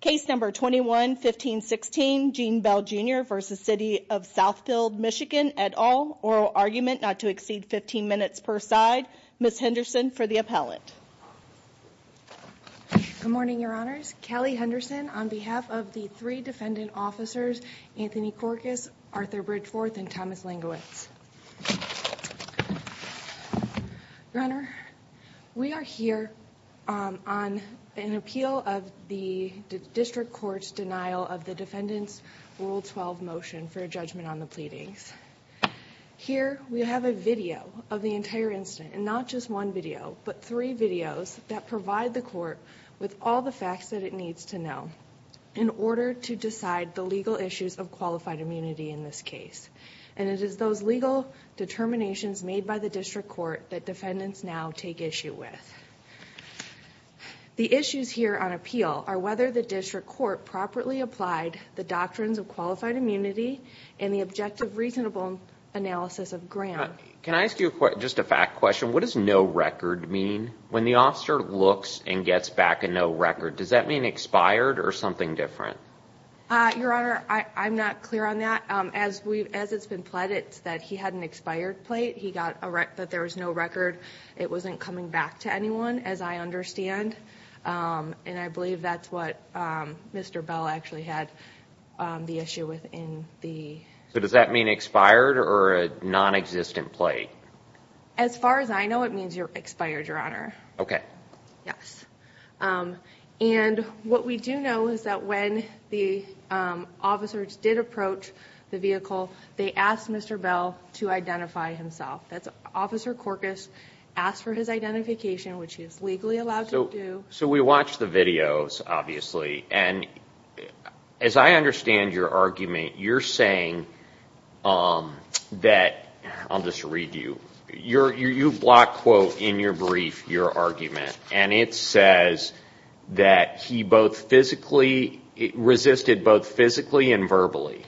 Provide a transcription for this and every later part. Case No. 21-1516, Gene Bell Jr v. City of Southfield, MI, et al. Oral argument not to exceed 15 minutes per side. Ms. Henderson for the appellant. Good morning, Your Honors. Callie Henderson on behalf of the three defendant officers, Anthony Korkus, Arthur Bridgeforth, and Thomas Linguetz. Your Honor, we are here on an appeal of the district court's denial of the defendant's Rule 12 motion for a judgment on the pleadings. Here, we have a video of the entire incident, and not just one video, but three videos that provide the court with all the facts that it needs to know in order to decide the legal issues of qualified immunity in this case. And it is those legal determinations made by the district court that defendants now take issue with. The issues here on appeal are whether the district court properly applied the doctrines of qualified immunity and the objective reasonable analysis of Graham. Can I ask you just a fact question? What does no record mean? When the officer looks and gets back a no record, does that mean expired or something different? Your Honor, I'm not clear on that. As it's been pledged that he had an expired plate, that there was no record, it wasn't coming back to anyone, as I understand. And I believe that's what Mr. Bell actually had the issue with in the... So does that mean expired or a nonexistent plate? As far as I know, it means expired, Your Honor. Okay. Yes. And what we do know is that when the officers did approach the vehicle, they asked Mr. Bell to identify himself. Officer Korkus asked for his identification, which he is legally allowed to do. So we watched the videos, obviously, and as I understand your argument, you're saying that... I'll just read you. You block quote in your brief your argument, and it says that he both physically, resisted both physically and verbally.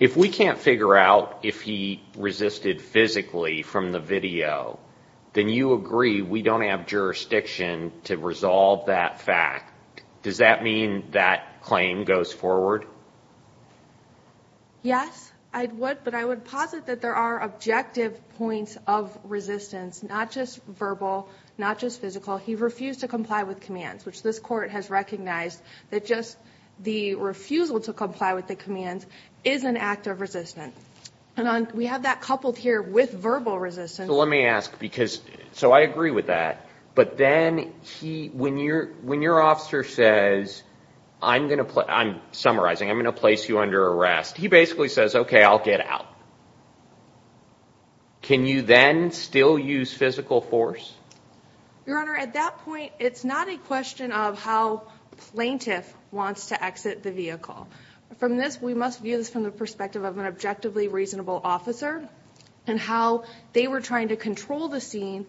If we can't figure out if he resisted physically from the video, then you agree we don't have jurisdiction to resolve that fact. Does that mean that claim goes forward? Yes, I would. But I would posit that there are objective points of resistance, not just verbal, not just physical. He refused to comply with commands, which this court has recognized that just the refusal to comply with the commands is an act of resistance. And we have that coupled here with verbal resistance. So let me ask, because I agree with that, but then when your officer says, I'm summarizing, I'm going to place you under arrest, he basically says, OK, I'll get out. Can you then still use physical force? Your Honor, at that point, it's not a question of how plaintiff wants to exit the vehicle. From this, we must view this from the perspective of an objectively reasonable officer and how they were trying to control the scene.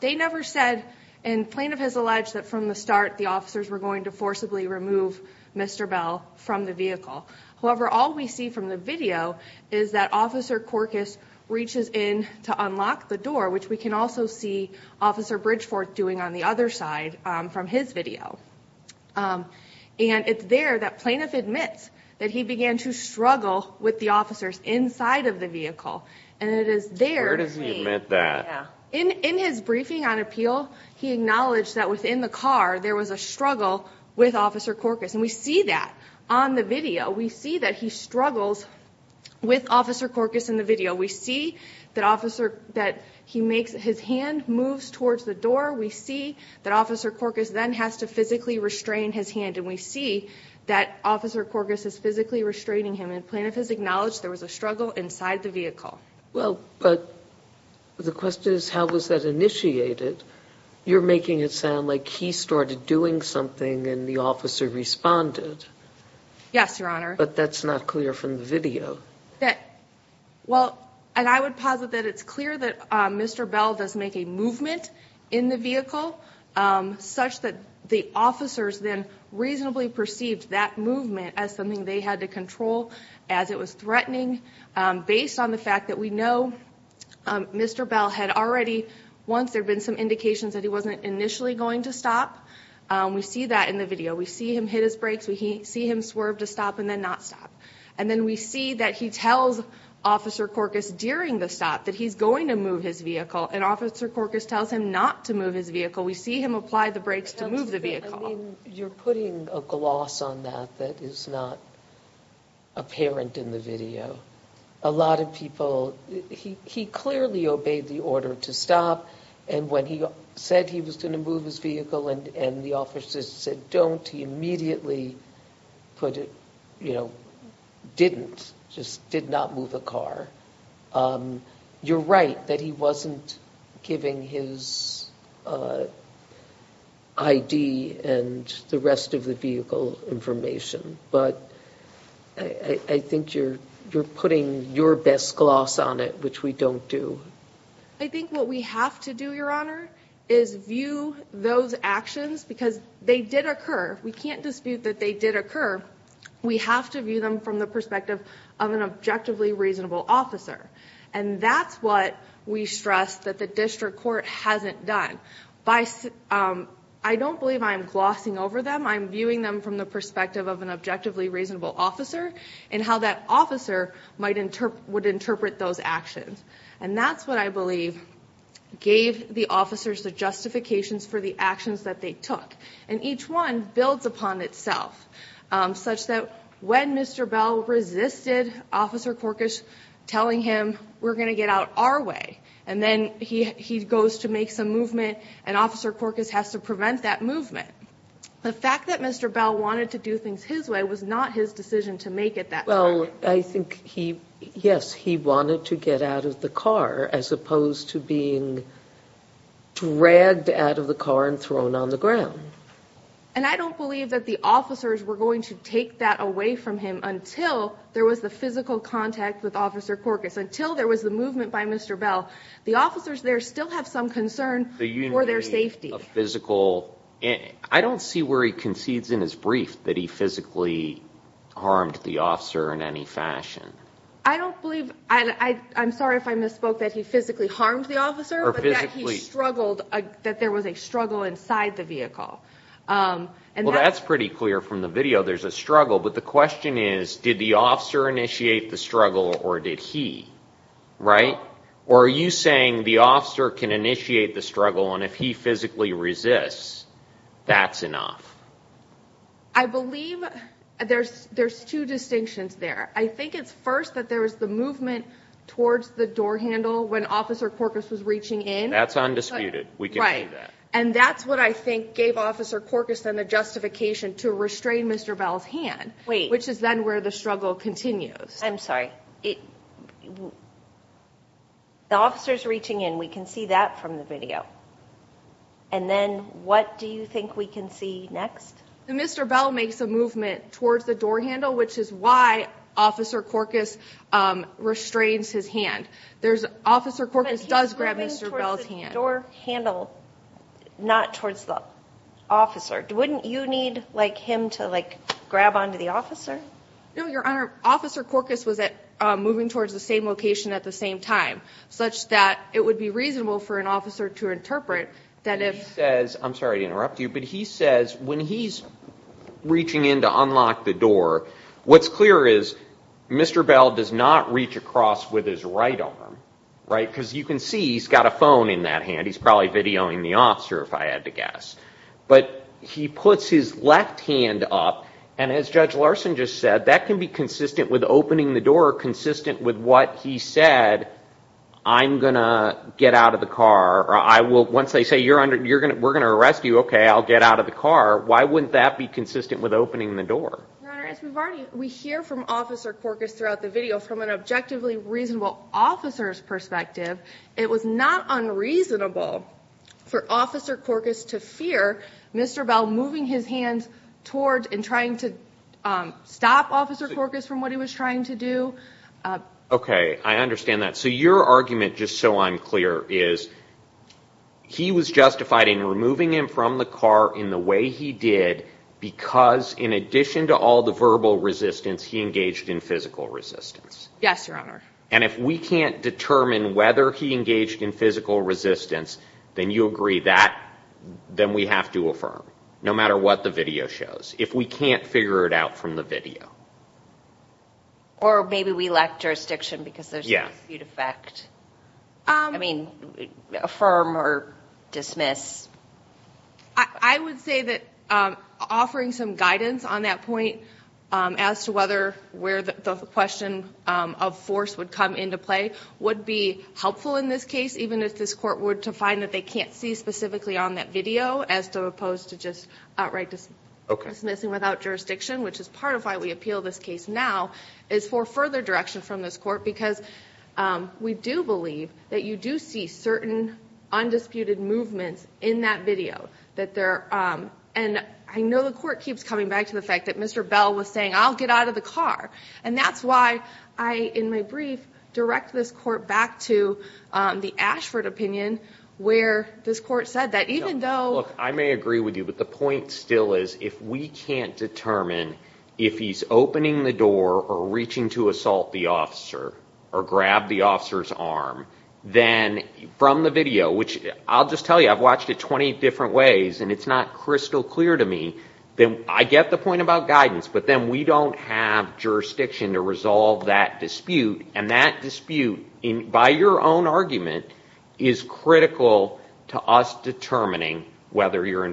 They never said, and plaintiff has alleged that from the start, the officers were going to forcibly remove Mr. Bell from the vehicle. However, all we see from the video is that Officer Corkus reaches in to unlock the door, which we can also see Officer Bridgefort doing on the other side from his video. And it's there that plaintiff admits that he began to struggle with the officers inside of the vehicle. And it is there. Where does he admit that? In his briefing on appeal, he acknowledged that within the car there was a struggle with Officer Corkus. And we see that on the video. We see that he struggles with Officer Corkus in the video. We see that he makes his hand move towards the door. We see that Officer Corkus then has to physically restrain his hand. And we see that Officer Corkus is physically restraining him. And plaintiff has acknowledged there was a struggle inside the vehicle. Well, but the question is how was that initiated? You're making it sound like he started doing something and the officer responded. Yes, Your Honor. But that's not clear from the video. Well, and I would posit that it's clear that Mr. Bell does make a movement in the vehicle, such that the officers then reasonably perceived that movement as something they had to control as it was threatening. Based on the fact that we know Mr. Bell had already, once there had been some indications that he wasn't initially going to stop. We see that in the video. We see him hit his brakes. We see him swerve to stop and then not stop. And then we see that he tells Officer Corkus during the stop that he's going to move his vehicle. And Officer Corkus tells him not to move his vehicle. We see him apply the brakes to move the vehicle. I mean, you're putting a gloss on that that is not apparent in the video. A lot of people, he clearly obeyed the order to stop. And when he said he was going to move his vehicle and the officers said don't, he immediately put it, you know, didn't. Just did not move the car. You're right that he wasn't giving his ID and the rest of the vehicle information. But I think you're putting your best gloss on it, which we don't do. I think what we have to do, Your Honor, is view those actions because they did occur. We can't dispute that they did occur. We have to view them from the perspective of an objectively reasonable officer. And that's what we stress that the district court hasn't done. I don't believe I'm glossing over them. I'm viewing them from the perspective of an objectively reasonable officer and how that officer would interpret those actions. And that's what I believe gave the officers the justifications for the actions that they took. And each one builds upon itself such that when Mr. Bell resisted Officer Corkish telling him we're going to get out our way, and then he goes to make some movement and Officer Corkish has to prevent that movement. The fact that Mr. Bell wanted to do things his way was not his decision to make at that time. Well, I think he, yes, he wanted to get out of the car as opposed to being dragged out of the car and thrown on the ground. And I don't believe that the officers were going to take that away from him until there was the physical contact with Officer Corkish, until there was the movement by Mr. Bell. The officers there still have some concern for their safety. I don't see where he concedes in his brief that he physically harmed the officer in any fashion. I'm sorry if I misspoke that he physically harmed the officer, but that there was a struggle inside the vehicle. Well, that's pretty clear from the video. There's a struggle, but the question is, did the officer initiate the struggle or did he? Or are you saying the officer can initiate the struggle and if he physically resists, that's enough? I believe there's two distinctions there. I think it's first that there was the movement towards the door handle when Officer Corkish was reaching in. That's undisputed. We can see that. And that's what I think gave Officer Corkish then the justification to restrain Mr. Bell's hand, which is then where the struggle continues. I'm sorry. The officer's reaching in. We can see that from the video. And then what do you think we can see next? Mr. Bell makes a movement towards the door handle, which is why Officer Corkish restrains his hand. Officer Corkish does grab Mr. Bell's hand. But he's moving towards the door handle, not towards the officer. Wouldn't you need him to grab onto the officer? No, Your Honor. Officer Corkish was moving towards the same location at the same time, such that it would be reasonable for an officer to interpret that if- He says, I'm sorry to interrupt you, but he says when he's reaching in to unlock the door, what's clear is Mr. Bell does not reach across with his right arm, right? Because you can see he's got a phone in that hand. He's probably videoing the officer, if I had to guess. But he puts his left hand up. And as Judge Larson just said, that can be consistent with opening the door, consistent with what he said, I'm going to get out of the car. Once they say we're going to arrest you, OK, I'll get out of the car. Why wouldn't that be consistent with opening the door? Your Honor, as we hear from Officer Corkish throughout the video, from an objectively reasonable officer's perspective, it was not unreasonable for Officer Corkish to fear Mr. Bell moving his hand towards and trying to stop Officer Corkish from what he was trying to do. OK, I understand that. So your argument, just so I'm clear, is he was justified in removing him from the car in the way he did because in addition to all the verbal resistance, he engaged in physical resistance. Yes, Your Honor. And if we can't determine whether he engaged in physical resistance, then you agree that we have to affirm, no matter what the video shows, if we can't figure it out from the video. Or maybe we lack jurisdiction because there's dispute effect. I mean, affirm or dismiss. I would say that offering some guidance on that point as to whether where the question of force would come into play would be helpful in this case, even if this Court were to find that they can't see specifically on that video, as opposed to just outright dismissing without jurisdiction, which is part of why we appeal this case now, is for further direction from this Court because we do believe that you do see certain undisputed movements in that video. And I know the Court keeps coming back to the fact that Mr. Bell was saying, I'll get out of the car, and that's why I, in my brief, direct this Court back to the Ashford opinion where this Court said that even though... Look, I may agree with you, but the point still is if we can't determine if he's opening the door or reaching to assault the officer or grab the officer's arm, then from the video, which I'll just tell you, I've watched it 20 different ways, and it's not crystal clear to me, then I get the point about guidance, but then we don't have jurisdiction to resolve that dispute, and that dispute, by your own argument, is critical to us determining whether you're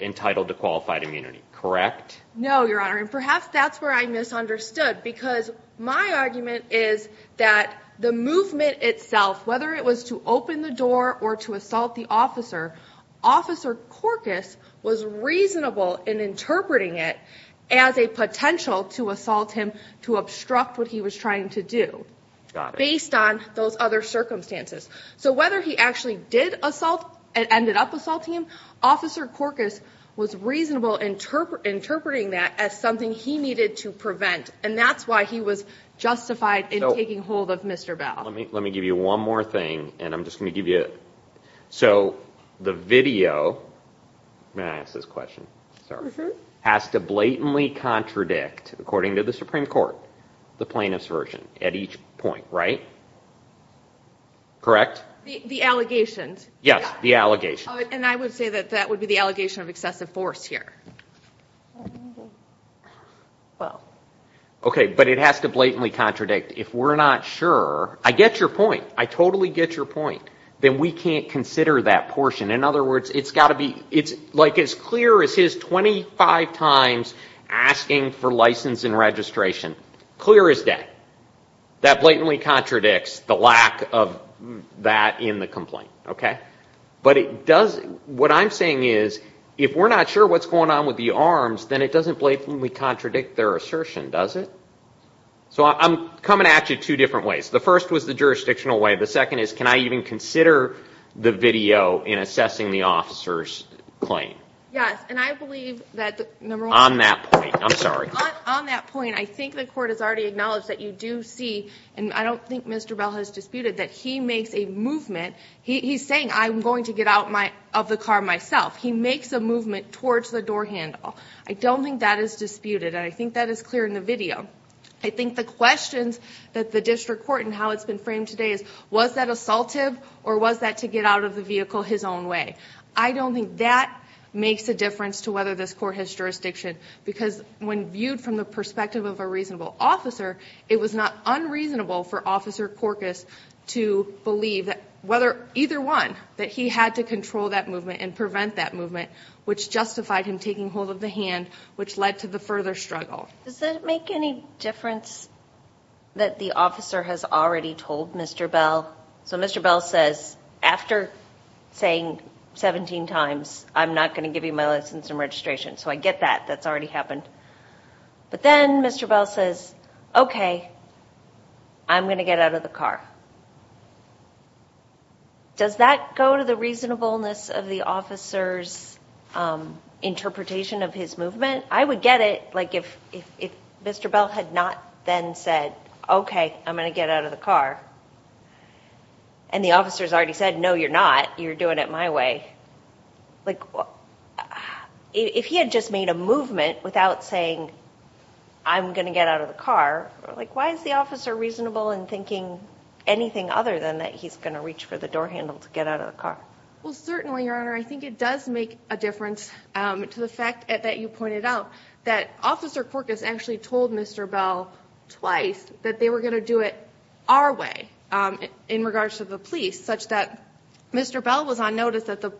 entitled to qualified immunity, correct? No, Your Honor, and perhaps that's where I misunderstood, because my argument is that the movement itself, whether it was to open the door or to assault the officer, Officer Corkus was reasonable in interpreting it as a potential to assault him to obstruct what he was trying to do based on those other circumstances. So whether he actually did assault and ended up assaulting him, Officer Corkus was reasonable interpreting that as something he needed to prevent, and that's why he was justified in taking hold of Mr. Bell. Let me give you one more thing, and I'm just going to give you... So the video, may I ask this question? Has to blatantly contradict, according to the Supreme Court, the plaintiff's version at each point, right? Correct? The allegations. Yes, the allegations. And I would say that that would be the allegation of excessive force here. Okay, but it has to blatantly contradict. If we're not sure, I get your point. I totally get your point. Then we can't consider that portion. In other words, it's got to be, like as clear as his 25 times asking for license and registration, clear as day. That blatantly contradicts the lack of that in the complaint. But what I'm saying is, if we're not sure what's going on with the arms, then it doesn't blatantly contradict their assertion, does it? So I'm coming at you two different ways. The first was the jurisdictional way. The second is, can I even consider the video in assessing the officer's claim? Yes, and I believe that... On that point, I'm sorry. On that point, I think the court has already acknowledged that you do see, and I don't think Mr. Bell has disputed, that he makes a movement. He's saying, I'm going to get out of the car myself. He makes a movement towards the door handle. I don't think that is disputed, and I think that is clear in the video. I think the questions that the district court and how it's been framed today is, was that assaultive or was that to get out of the vehicle his own way? I don't think that makes a difference to whether this court has jurisdiction, because when viewed from the perspective of a reasonable officer, it was not unreasonable for Officer Korkus to believe, either one, that he had to control that movement and prevent that movement, which justified him taking hold of the hand, which led to the further struggle. Does that make any difference that the officer has already told Mr. Bell? So Mr. Bell says, after saying 17 times, I'm not going to give you my license and registration. So I get that. That's already happened. But then Mr. Bell says, okay, I'm going to get out of the car. Does that go to the reasonableness of the officer's interpretation of his movement? I would get it if Mr. Bell had not then said, okay, I'm going to get out of the car. And the officer's already said, no, you're not. You're doing it my way. If he had just made a movement without saying, I'm going to get out of the car, why is the officer reasonable in thinking anything other than that he's going to reach for the door handle to get out of the car? Well, certainly, Your Honor, I think it does make a difference to the fact that you pointed out that Officer Korkus actually told Mr. Bell twice that they were going to do it our way in regards to the police, such that Mr. Bell was on notice that the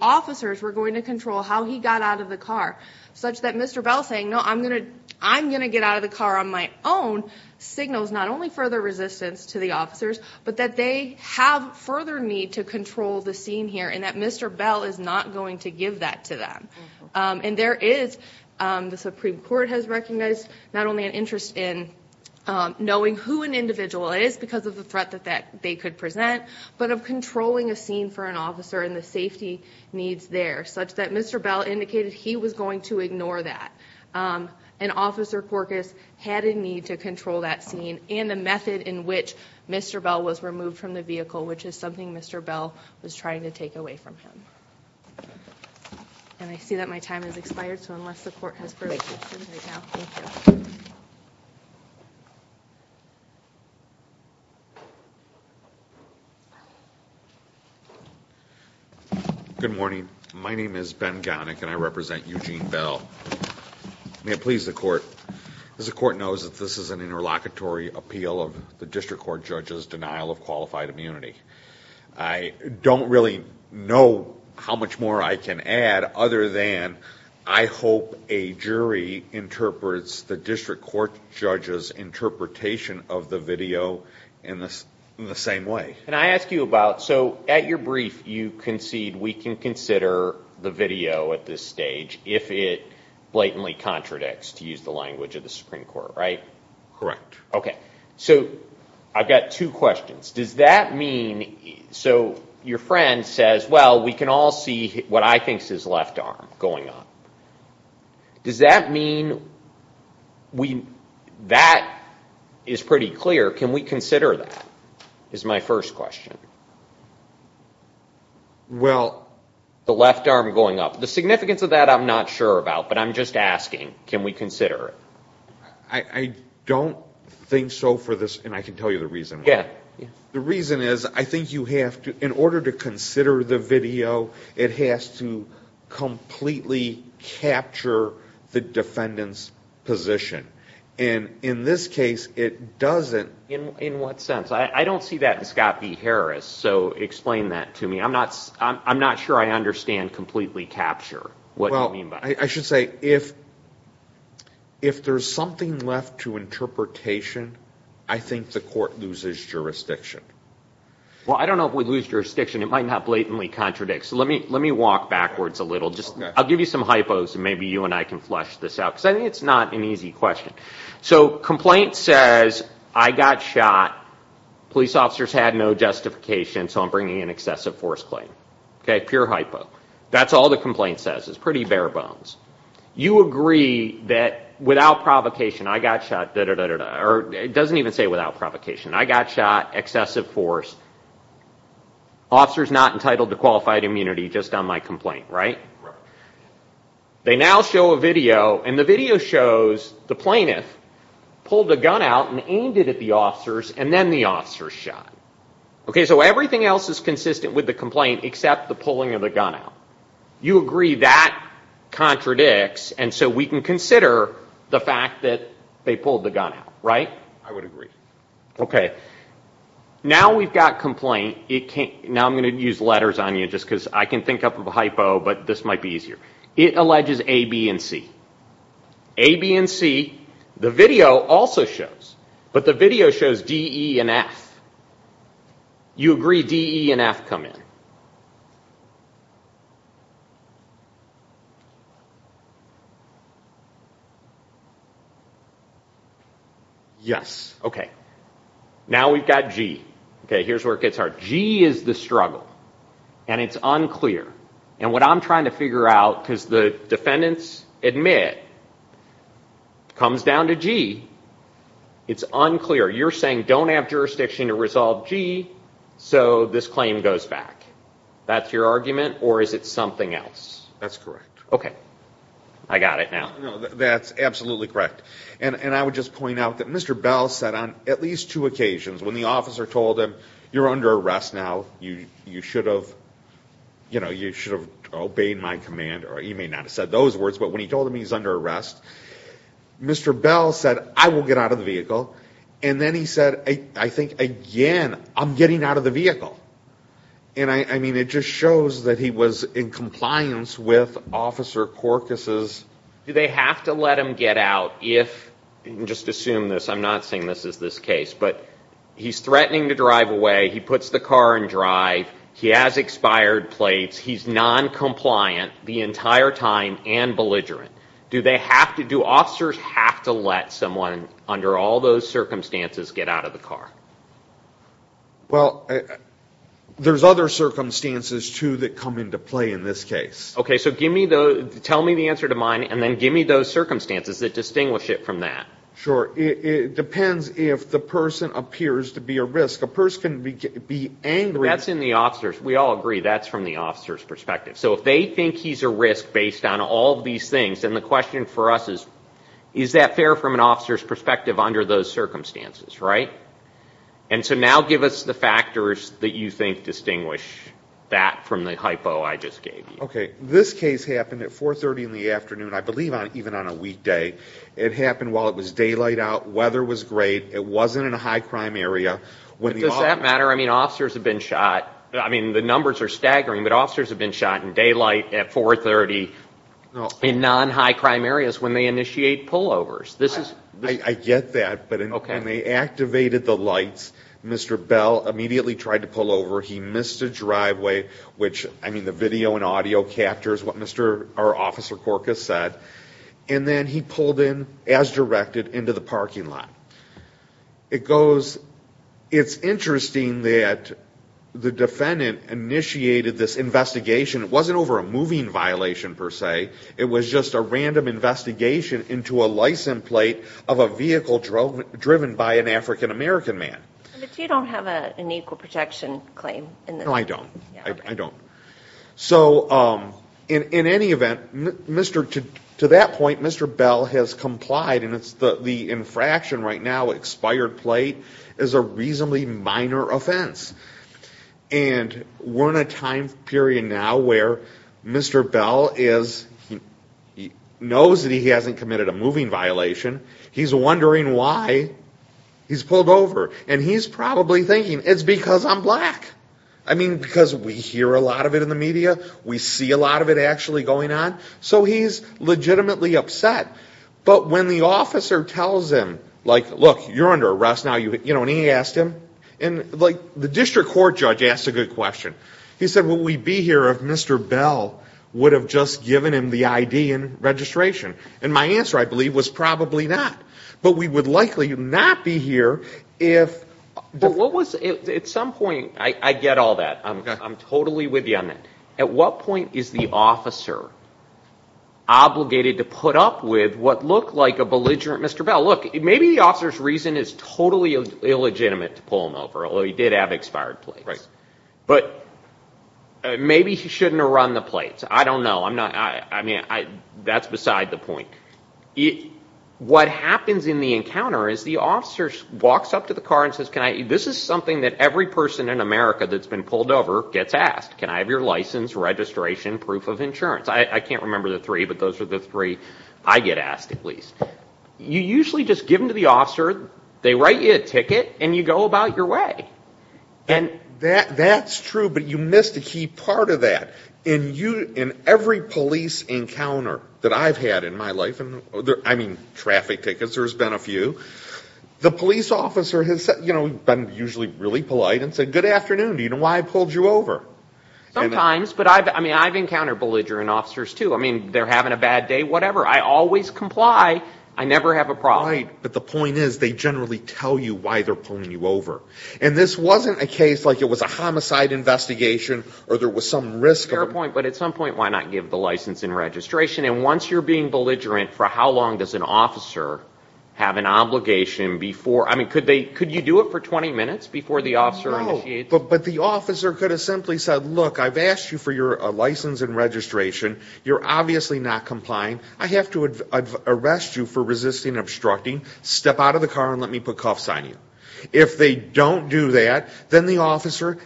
officers were going to control how he got out of the car, such that Mr. Bell saying, no, I'm going to get out of the car on my own, signals not only further resistance to the officers, but that they have further need to control the scene here, and that Mr. Bell is not going to give that to them. And there is, the Supreme Court has recognized, not only an interest in knowing who an individual is because of the threat that they could present, but of controlling a scene for an officer and the safety needs there, such that Mr. Bell indicated he was going to ignore that. And Officer Korkus had a need to control that scene and the method in which Mr. Bell was removed from the vehicle, which is something Mr. Bell was trying to take away from him. And I see that my time has expired, so unless the Court has further questions right now, thank you. Good morning. My name is Ben Gownick and I represent Eugene Bell. May it please the Court, as the Court knows that this is an interlocutory appeal of the District Court judge's I don't really know how much more I can add other than I hope a jury interprets the District Court judge's interpretation of the video in the same way. And I ask you about, so at your brief you concede we can consider the video at this stage if it blatantly contradicts, to use the language of the Supreme Court, right? Correct. Okay, so I've got two questions. Does that mean, so your friend says, well, we can all see what I think is his left arm going up. Does that mean, that is pretty clear, can we consider that, is my first question? Well... The left arm going up, the significance of that I'm not sure about, but I'm just asking, can we consider it? I don't think so for this, and I can tell you the reason why. The reason is, I think you have to, in order to consider the video, it has to completely capture the defendant's position. And in this case, it doesn't... In what sense? I don't see that in Scott B. Harris, so explain that to me. I'm not sure I understand completely capture, what you mean by that. I should say, if there's something left to interpretation, I think the court loses jurisdiction. Well, I don't know if we lose jurisdiction, it might not blatantly contradict. So let me walk backwards a little. I'll give you some hypos, and maybe you and I can flesh this out, because I think it's not an easy question. So, complaint says, I got shot, police officers had no justification, so I'm bringing an excessive force claim. Okay, pure hypo. That's all the complaint says, it's pretty bare bones. You agree that without provocation, I got shot, da-da-da-da-da, or it doesn't even say without provocation. I got shot, excessive force, officers not entitled to qualified immunity just on my complaint, right? They now show a video, and the video shows the plaintiff pulled a gun out and aimed it at the officers, and then the officers shot. Okay, so everything else is consistent with the complaint except the pulling of the gun out. You agree that contradicts, and so we can consider the fact that they pulled the gun out, right? I would agree. Okay, now we've got complaint, now I'm going to use letters on you just because I can think up a hypo, but this might be easier. It alleges A, B, and C. A, B, and C, the video also shows, but the video shows D, E, and F. You agree D, E, and F come in? Yes, okay. Now we've got G. Okay, here's where it gets hard. G is the struggle, and it's unclear, and what I'm trying to figure out because the defendants admit comes down to G, it's unclear. You're saying don't have jurisdiction to resolve G, so this claim goes back. That's your argument, or is it something else? That's correct. Okay, I got it now. No, that's absolutely correct, and I would just point out that Mr. Bell said on at least two occasions when the officer told him you're under arrest now, you should have, you know, you should have obeyed my command, or you may not have said those words, but when he told him he's under arrest, Mr. Bell said I will get out of the vehicle, and then he said, I think, again, I'm getting out of the vehicle, and I mean it just shows that he was in compliance with Officer Korkis's. Do they have to let him get out if, just assume this, I'm not saying this is this case, but he's threatening to drive away. He puts the car in drive. He has expired plates. He's noncompliant the entire time and belligerent. Do they have to, do officers have to let someone under all those circumstances get out of the car? Well, there's other circumstances, too, that come into play in this case. Okay, so give me the, tell me the answer to mine, and then give me those circumstances that distinguish it from that. Sure. It depends if the person appears to be a risk. A person can be angry. That's in the officers. We all agree that's from the officer's perspective. So if they think he's a risk based on all of these things, then the question for us is, is that fair from an officer's perspective under those circumstances, right? And so now give us the factors that you think distinguish that from the hypo I just gave you. Okay. This case happened at 430 in the afternoon, I believe even on a weekday. It happened while it was daylight out. Weather was great. It wasn't in a high crime area. Does that matter? I mean, officers have been shot, I mean, the numbers are staggering, but officers have been shot in daylight at 430 in non-high crime areas when they initiate pullovers. I get that, but when they activated the lights, Mr. Bell immediately tried to pull over. He missed a driveway, which, I mean, the video and audio captures what Mr. Korkus said, and then he pulled in as directed into the parking lot. It goes, it's interesting that the defendant initiated this investigation. It wasn't over a moving violation, per se. It was just a random investigation into a license plate of a vehicle driven by an African-American man. But you don't have an equal protection claim. No, I don't. I don't. So, in any event, to that point, Mr. Bell has complied, and the infraction right now, expired plate, is a reasonably minor offense. And we're in a time period now where Mr. Bell knows that he hasn't committed a moving violation. He's wondering why he's pulled over. And he's probably thinking, it's because I'm black. I mean, because we hear a lot of it in the media. We see a lot of it actually going on. So he's legitimately upset. But when the officer tells him, like, look, you're under arrest now, you know, and he asked him, and, like, the district court judge asked a good question. He said, would we be here if Mr. Bell would have just given him the ID and registration? And my answer, I believe, was probably not. But we would likely not be here if... At some point, I get all that. I'm totally with you on that. At what point is the officer obligated to put up with what looked like a belligerent Mr. Bell? Look, maybe the officer's reason is totally illegitimate to pull him over, although he did have expired plates. But maybe he shouldn't have run the plates. I don't know. I mean, that's beside the point. What happens in the encounter is the officer walks up to the car and says, this is something that every person in America that's been pulled over gets asked. Can I have your license, registration, proof of insurance? I can't remember the three, but those are the three I get asked at least. You usually just give them to the officer, they write you a ticket, and you go about your way. That's true, but you missed a key part of that. In every police encounter that I've had in my life, I mean, traffic tickets, there's been a few, the police officer has been usually really polite and said, good afternoon. Do you know why I pulled you over? Sometimes, but I've encountered belligerent officers too. I mean, they're having a bad day, whatever. I always comply. I never have a problem. Right, but the point is they generally tell you why they're pulling you over. And this wasn't a case like it was a homicide investigation or there was some risk... At some point, but at some point, why not give the license and registration? And once you're being belligerent, for how long does an officer have an obligation before? I mean, could you do it for 20 minutes before the officer initiates? No, but the officer could have simply said, look, I've asked you for your license and registration. You're obviously not complying. I have to arrest you for resisting and obstructing. Step out of the car and let me put cuffs on you. If they don't do that, then the officer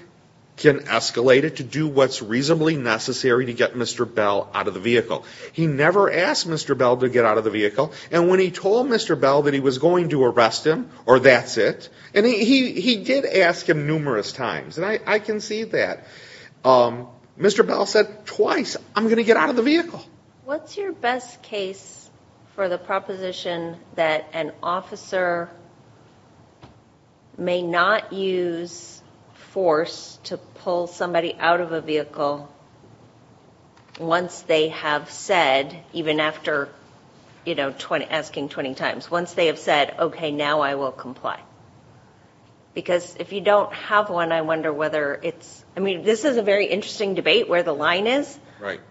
can escalate it to do what's reasonably necessary to get Mr. Bell out of the vehicle. He never asked Mr. Bell to get out of the vehicle. And when he told Mr. Bell that he was going to arrest him, or that's it... And he did ask him numerous times, and I can see that. Mr. Bell said twice, I'm going to get out of the vehicle. What's your best case for the proposition that an officer may not use force to pull somebody out of a vehicle once they have said, even after asking 20 times. Once they have said, okay, now I will comply. Because if you don't have one, I wonder whether it's... I mean, this is a very interesting debate where the line is.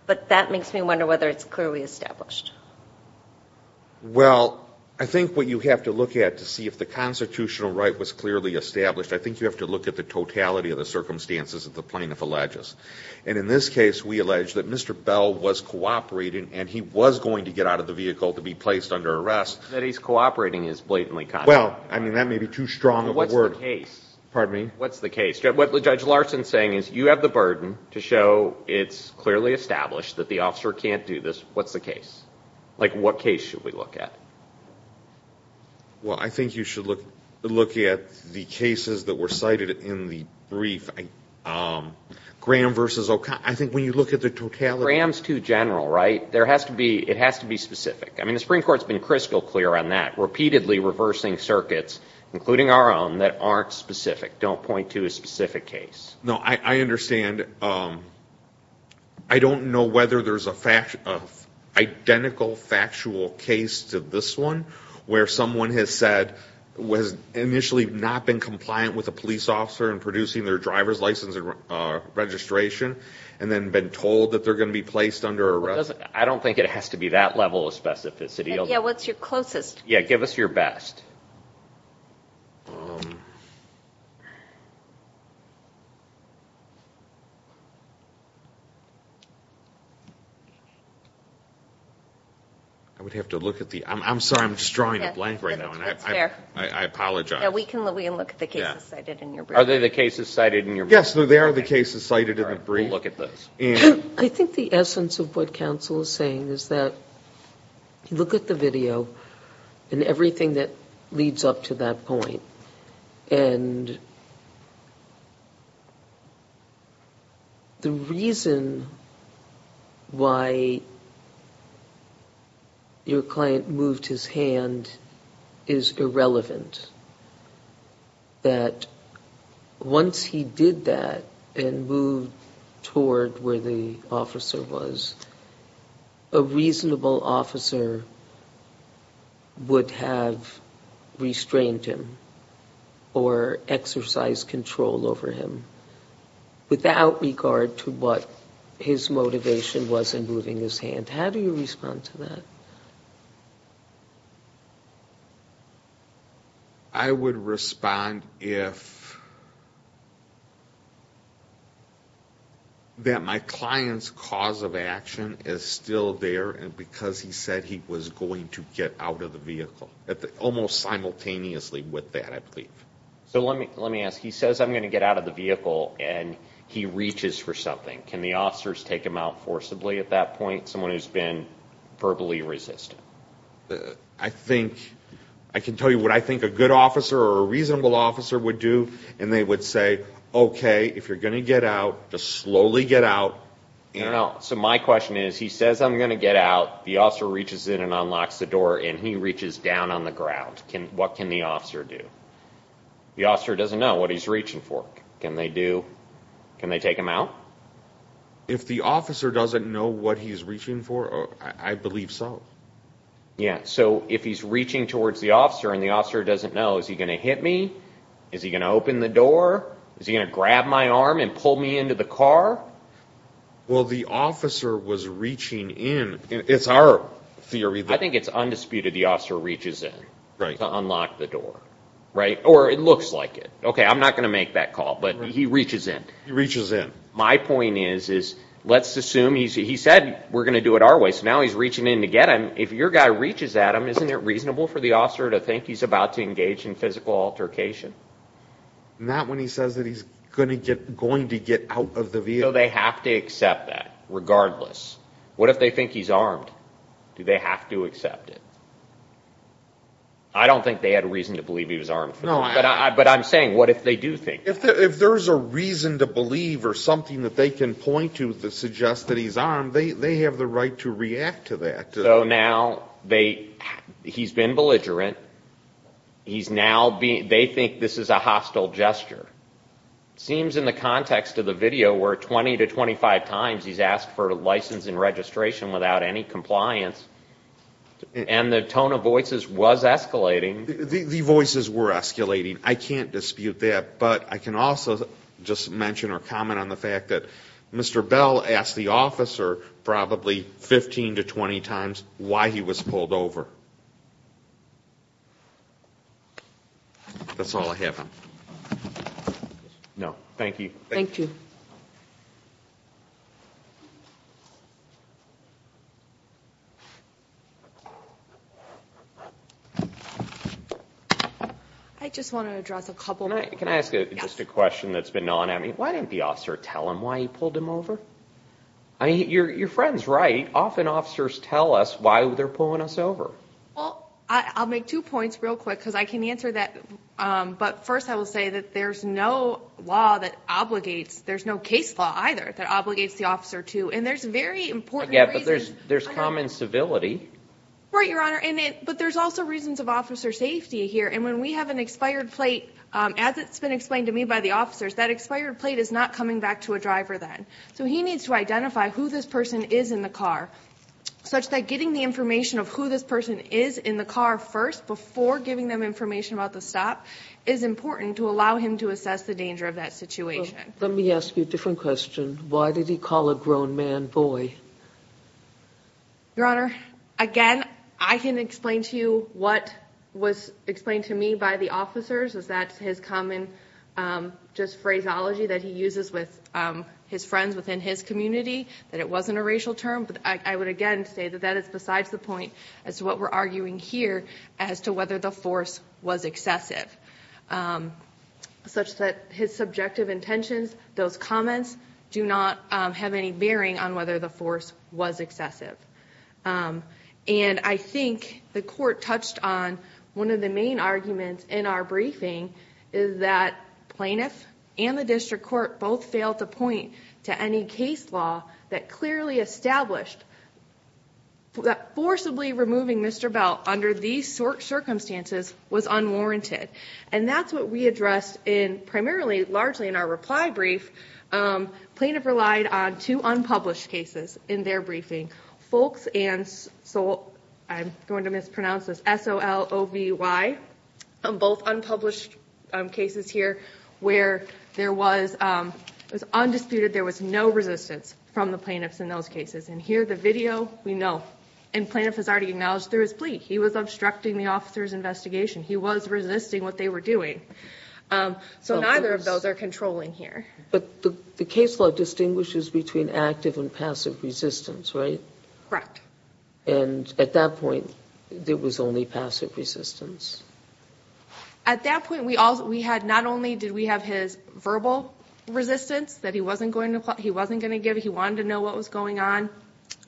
But that makes me wonder whether it's clearly established. Well, I think what you have to look at to see if the constitutional right was clearly established, I think you have to look at the totality of the circumstances that the plaintiff alleges. And in this case, we allege that Mr. Bell was cooperating and he was going to get out of the vehicle to be placed under arrest. That he's cooperating is blatantly contrary. Well, I mean, that may be too strong of a word. What's the case? Pardon me? If we have the burden to show it's clearly established that the officer can't do this, what's the case? Like, what case should we look at? Well, I think you should look at the cases that were cited in the brief. Graham versus O'Connor. I think when you look at the totality... Graham's too general, right? There has to be... it has to be specific. I mean, the Supreme Court's been crystal clear on that. Repeatedly reversing circuits, including our own, that aren't specific. Don't point to a specific case. No, I understand. I don't know whether there's an identical factual case to this one, where someone has said, was initially not been compliant with a police officer in producing their driver's license and registration, and then been told that they're going to be placed under arrest. I don't think it has to be that level of specificity. Yeah, what's your closest? Yeah, give us your best. I would have to look at the... I'm sorry, I'm just drawing a blank right now. That's fair. I apologize. Yeah, we can look at the cases cited in your brief. Are they the cases cited in your brief? Yes, they are the cases cited in the brief. All right, we'll look at those. I think the essence of what counsel is saying is that you look at the video and everything that leads up to that point, and the reason why your client moved his hand is irrelevant. That once he did that and moved toward where the officer was, a reasonable officer would have restrained him or exercised control over him without regard to what his motivation was in moving his hand. How do you respond to that? I would respond if that my client's cause of action is still there because he said he was going to get out of the vehicle, almost simultaneously with that, I believe. So let me ask. He says, I'm going to get out of the vehicle, and he reaches for something. Can the officers take him out forcibly at that point? Someone who's been verbally resistant. I can tell you what I think a good officer or a reasonable officer would do, and they would say, okay, if you're going to get out, just slowly get out. So my question is, he says, I'm going to get out. The officer reaches in and unlocks the door, and he reaches down on the ground. What can the officer do? The officer doesn't know what he's reaching for. Can they take him out? If the officer doesn't know what he's reaching for, I believe so. Yeah, so if he's reaching towards the officer and the officer doesn't know, is he going to hit me? Is he going to open the door? Is he going to grab my arm and pull me into the car? Well, the officer was reaching in. It's our theory. I think it's undisputed the officer reaches in to unlock the door. Or it looks like it. Okay, I'm not going to make that call, but he reaches in. He reaches in. My point is, let's assume he said we're going to do it our way, so now he's reaching in to get him. If your guy reaches at him, isn't it reasonable for the officer to think he's about to engage in physical altercation? Not when he says that he's going to get out of the vehicle. So they have to accept that, regardless. What if they think he's armed? Do they have to accept it? I don't think they had a reason to believe he was armed. But I'm saying, what if they do think? If there's a reason to believe or something that they can point to that suggests that he's armed, they have the right to react to that. So now he's been belligerent. They think this is a hostile gesture. It seems in the context of the video where 20 to 25 times he's asked for license and registration without any compliance, and the tone of voices was escalating. The voices were escalating. I can't dispute that. But I can also just mention or comment on the fact that Mr. Bell asked the officer probably 15 to 20 times why he was pulled over. That's all I have on it. No, thank you. Thank you. I just want to address a couple of things. Can I ask just a question that's been going on? Why didn't the officer tell him why he pulled him over? I mean, your friend's right. Often officers tell us why they're pulling us over. Well, I'll make two points real quick because I can answer that. But first I will say that there's no law that obligates, there's no case law either that obligates the officer to. And there's very important reasons. Yeah, but there's common civility. Right, Your Honor. But there's also reasons of officer safety here. And when we have an expired plate, as it's been explained to me by the officers, that expired plate is not coming back to a driver then. So he needs to identify who this person is in the car, such that getting the information of who this person is in the car first before giving them information about the stop is important to allow him to assess the danger of that situation. Let me ask you a different question. Why did he call a grown man boy? Your Honor, again, I can explain to you what was explained to me by the officers, is that his common just phraseology that he uses with his friends within his community, that it wasn't a racial term. But I would again say that that is besides the point as to what we're the force was excessive, such that his subjective intentions, those comments do not have any bearing on whether the force was excessive. And I think the court touched on one of the main arguments in our briefing is that plaintiff and the district court both failed to point to any case law that clearly established that forcibly removing Mr. Bell under these short circumstances was unwarranted. And that's what we addressed in primarily, largely in our reply brief. Plaintiff relied on two unpublished cases in their briefing. Folks and, I'm going to mispronounce this, S-O-L-O-V-Y. Both unpublished cases here where there was undisputed, there was no resistance from the plaintiffs in those cases. And here the video, we know. And plaintiff has already acknowledged through his plea. He was obstructing the officer's investigation. He was resisting what they were doing. So neither of those are controlling here. But the case law distinguishes between active and passive resistance, right? Correct. And at that point, it was only passive resistance. At that point, not only did we have his verbal resistance that he wasn't going to give, he wanted to know what was going on,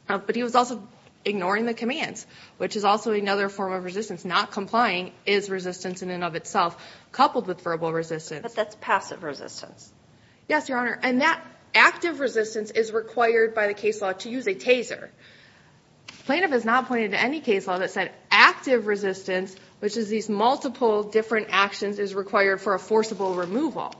but he was also ignoring the commands, which is also another form of resistance. Not complying is resistance in and of itself, coupled with verbal resistance. But that's passive resistance. Yes, Your Honor. And that active resistance is required by the case law to use a taser. Plaintiff has not pointed to any case law that said active resistance, which is these multiple different actions, is required for a forcible removal.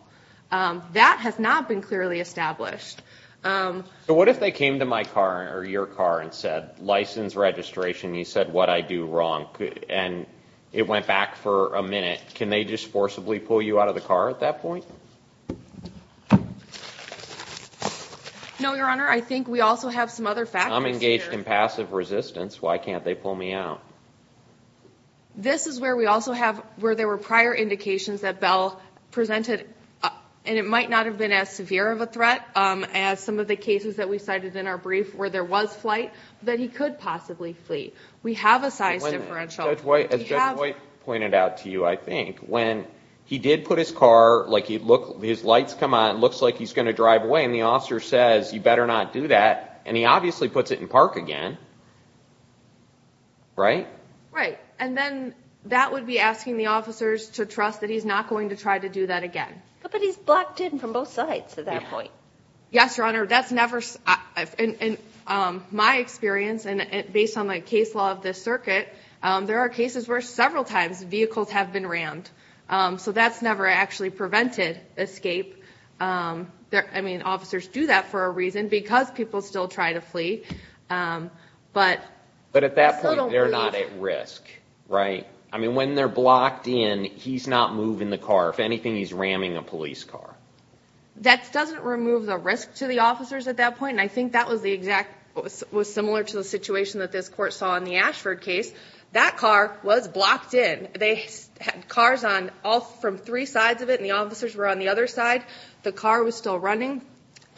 That has not been clearly established. But what if they came to my car or your car and said, license registration, you said what I do wrong. And it went back for a minute. Can they just forcibly pull you out of the car at that point? No, Your Honor. I think we also have some other factors here. I'm engaged in passive resistance. Why can't they pull me out? This is where we also have where there were prior indications that Bell presented, and it might not have been as severe of a threat as some of the cases that we cited in our brief where there was flight, that he could possibly flee. We have a size differential. As Judge White pointed out to you, I think, when he did put his car, like his lights come on, it looks like he's going to drive away, and the officer says you better not do that, and he obviously puts it in park again. Right? Right. And then that would be asking the officers to trust that he's not going to try to do that again. But he's blocked in from both sides at that point. Yes, Your Honor. That's never, in my experience, and based on the case law of this circuit, there are cases where several times vehicles have been rammed. So that's never actually prevented escape. I mean, officers do that for a reason because people still try to flee. But at that point, they're not at risk. Right? I mean, when they're blocked in, he's not moving the car. If anything, he's ramming a police car. That doesn't remove the risk to the officers at that point, and I think that was similar to the situation that this Court saw in the Ashford case. That car was blocked in. They had cars from three sides of it, and the officers were on the other side. The car was still running.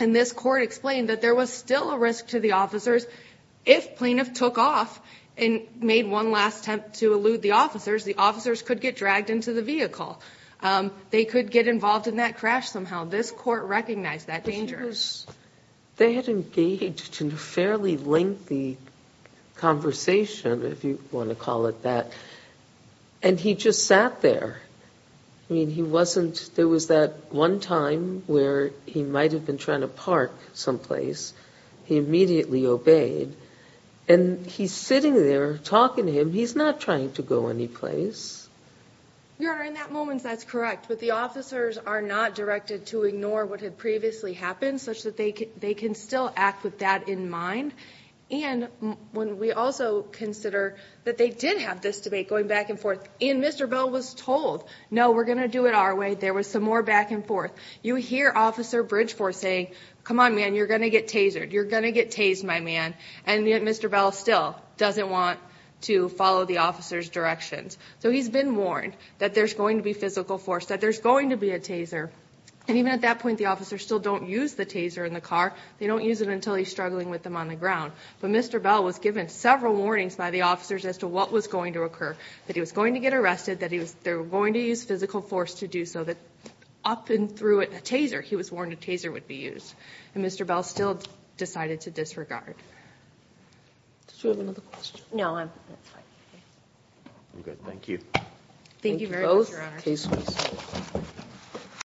And this Court explained that there was still a risk to the officers. If plaintiff took off and made one last attempt to elude the officers, the officers could get dragged into the vehicle. They could get involved in that crash somehow. This Court recognized that danger. They had engaged in a fairly lengthy conversation, if you want to call it that, and he just sat there. I mean, there was that one time where he might have been trying to park someplace. He immediately obeyed. And he's sitting there talking to him. He's not trying to go anyplace. Your Honor, in that moment, that's correct, but the officers are not directed to ignore what had previously happened, such that they can still act with that in mind. And we also consider that they did have this debate going back and forth, and Mr. Bell was told, no, we're going to do it our way. There was some more back and forth. You hear Officer Bridgeforth say, come on, man, you're going to get tasered. You're going to get tased, my man. And yet Mr. Bell still doesn't want to follow the officer's directions. So he's been warned that there's going to be physical force, that there's going to be a taser. And even at that point, the officers still don't use the taser in the car. They don't use it until he's struggling with them on the ground. But Mr. Bell was given several warnings by the officers as to what was going to occur, that he was going to get arrested, that they were going to use physical force to do so, that up and through a taser, he was warned a taser would be used. And Mr. Bell still decided to disregard. Did you have another question? No, I'm fine. Okay, thank you. Thank you very much, Your Honor. Thank you both. Case closed.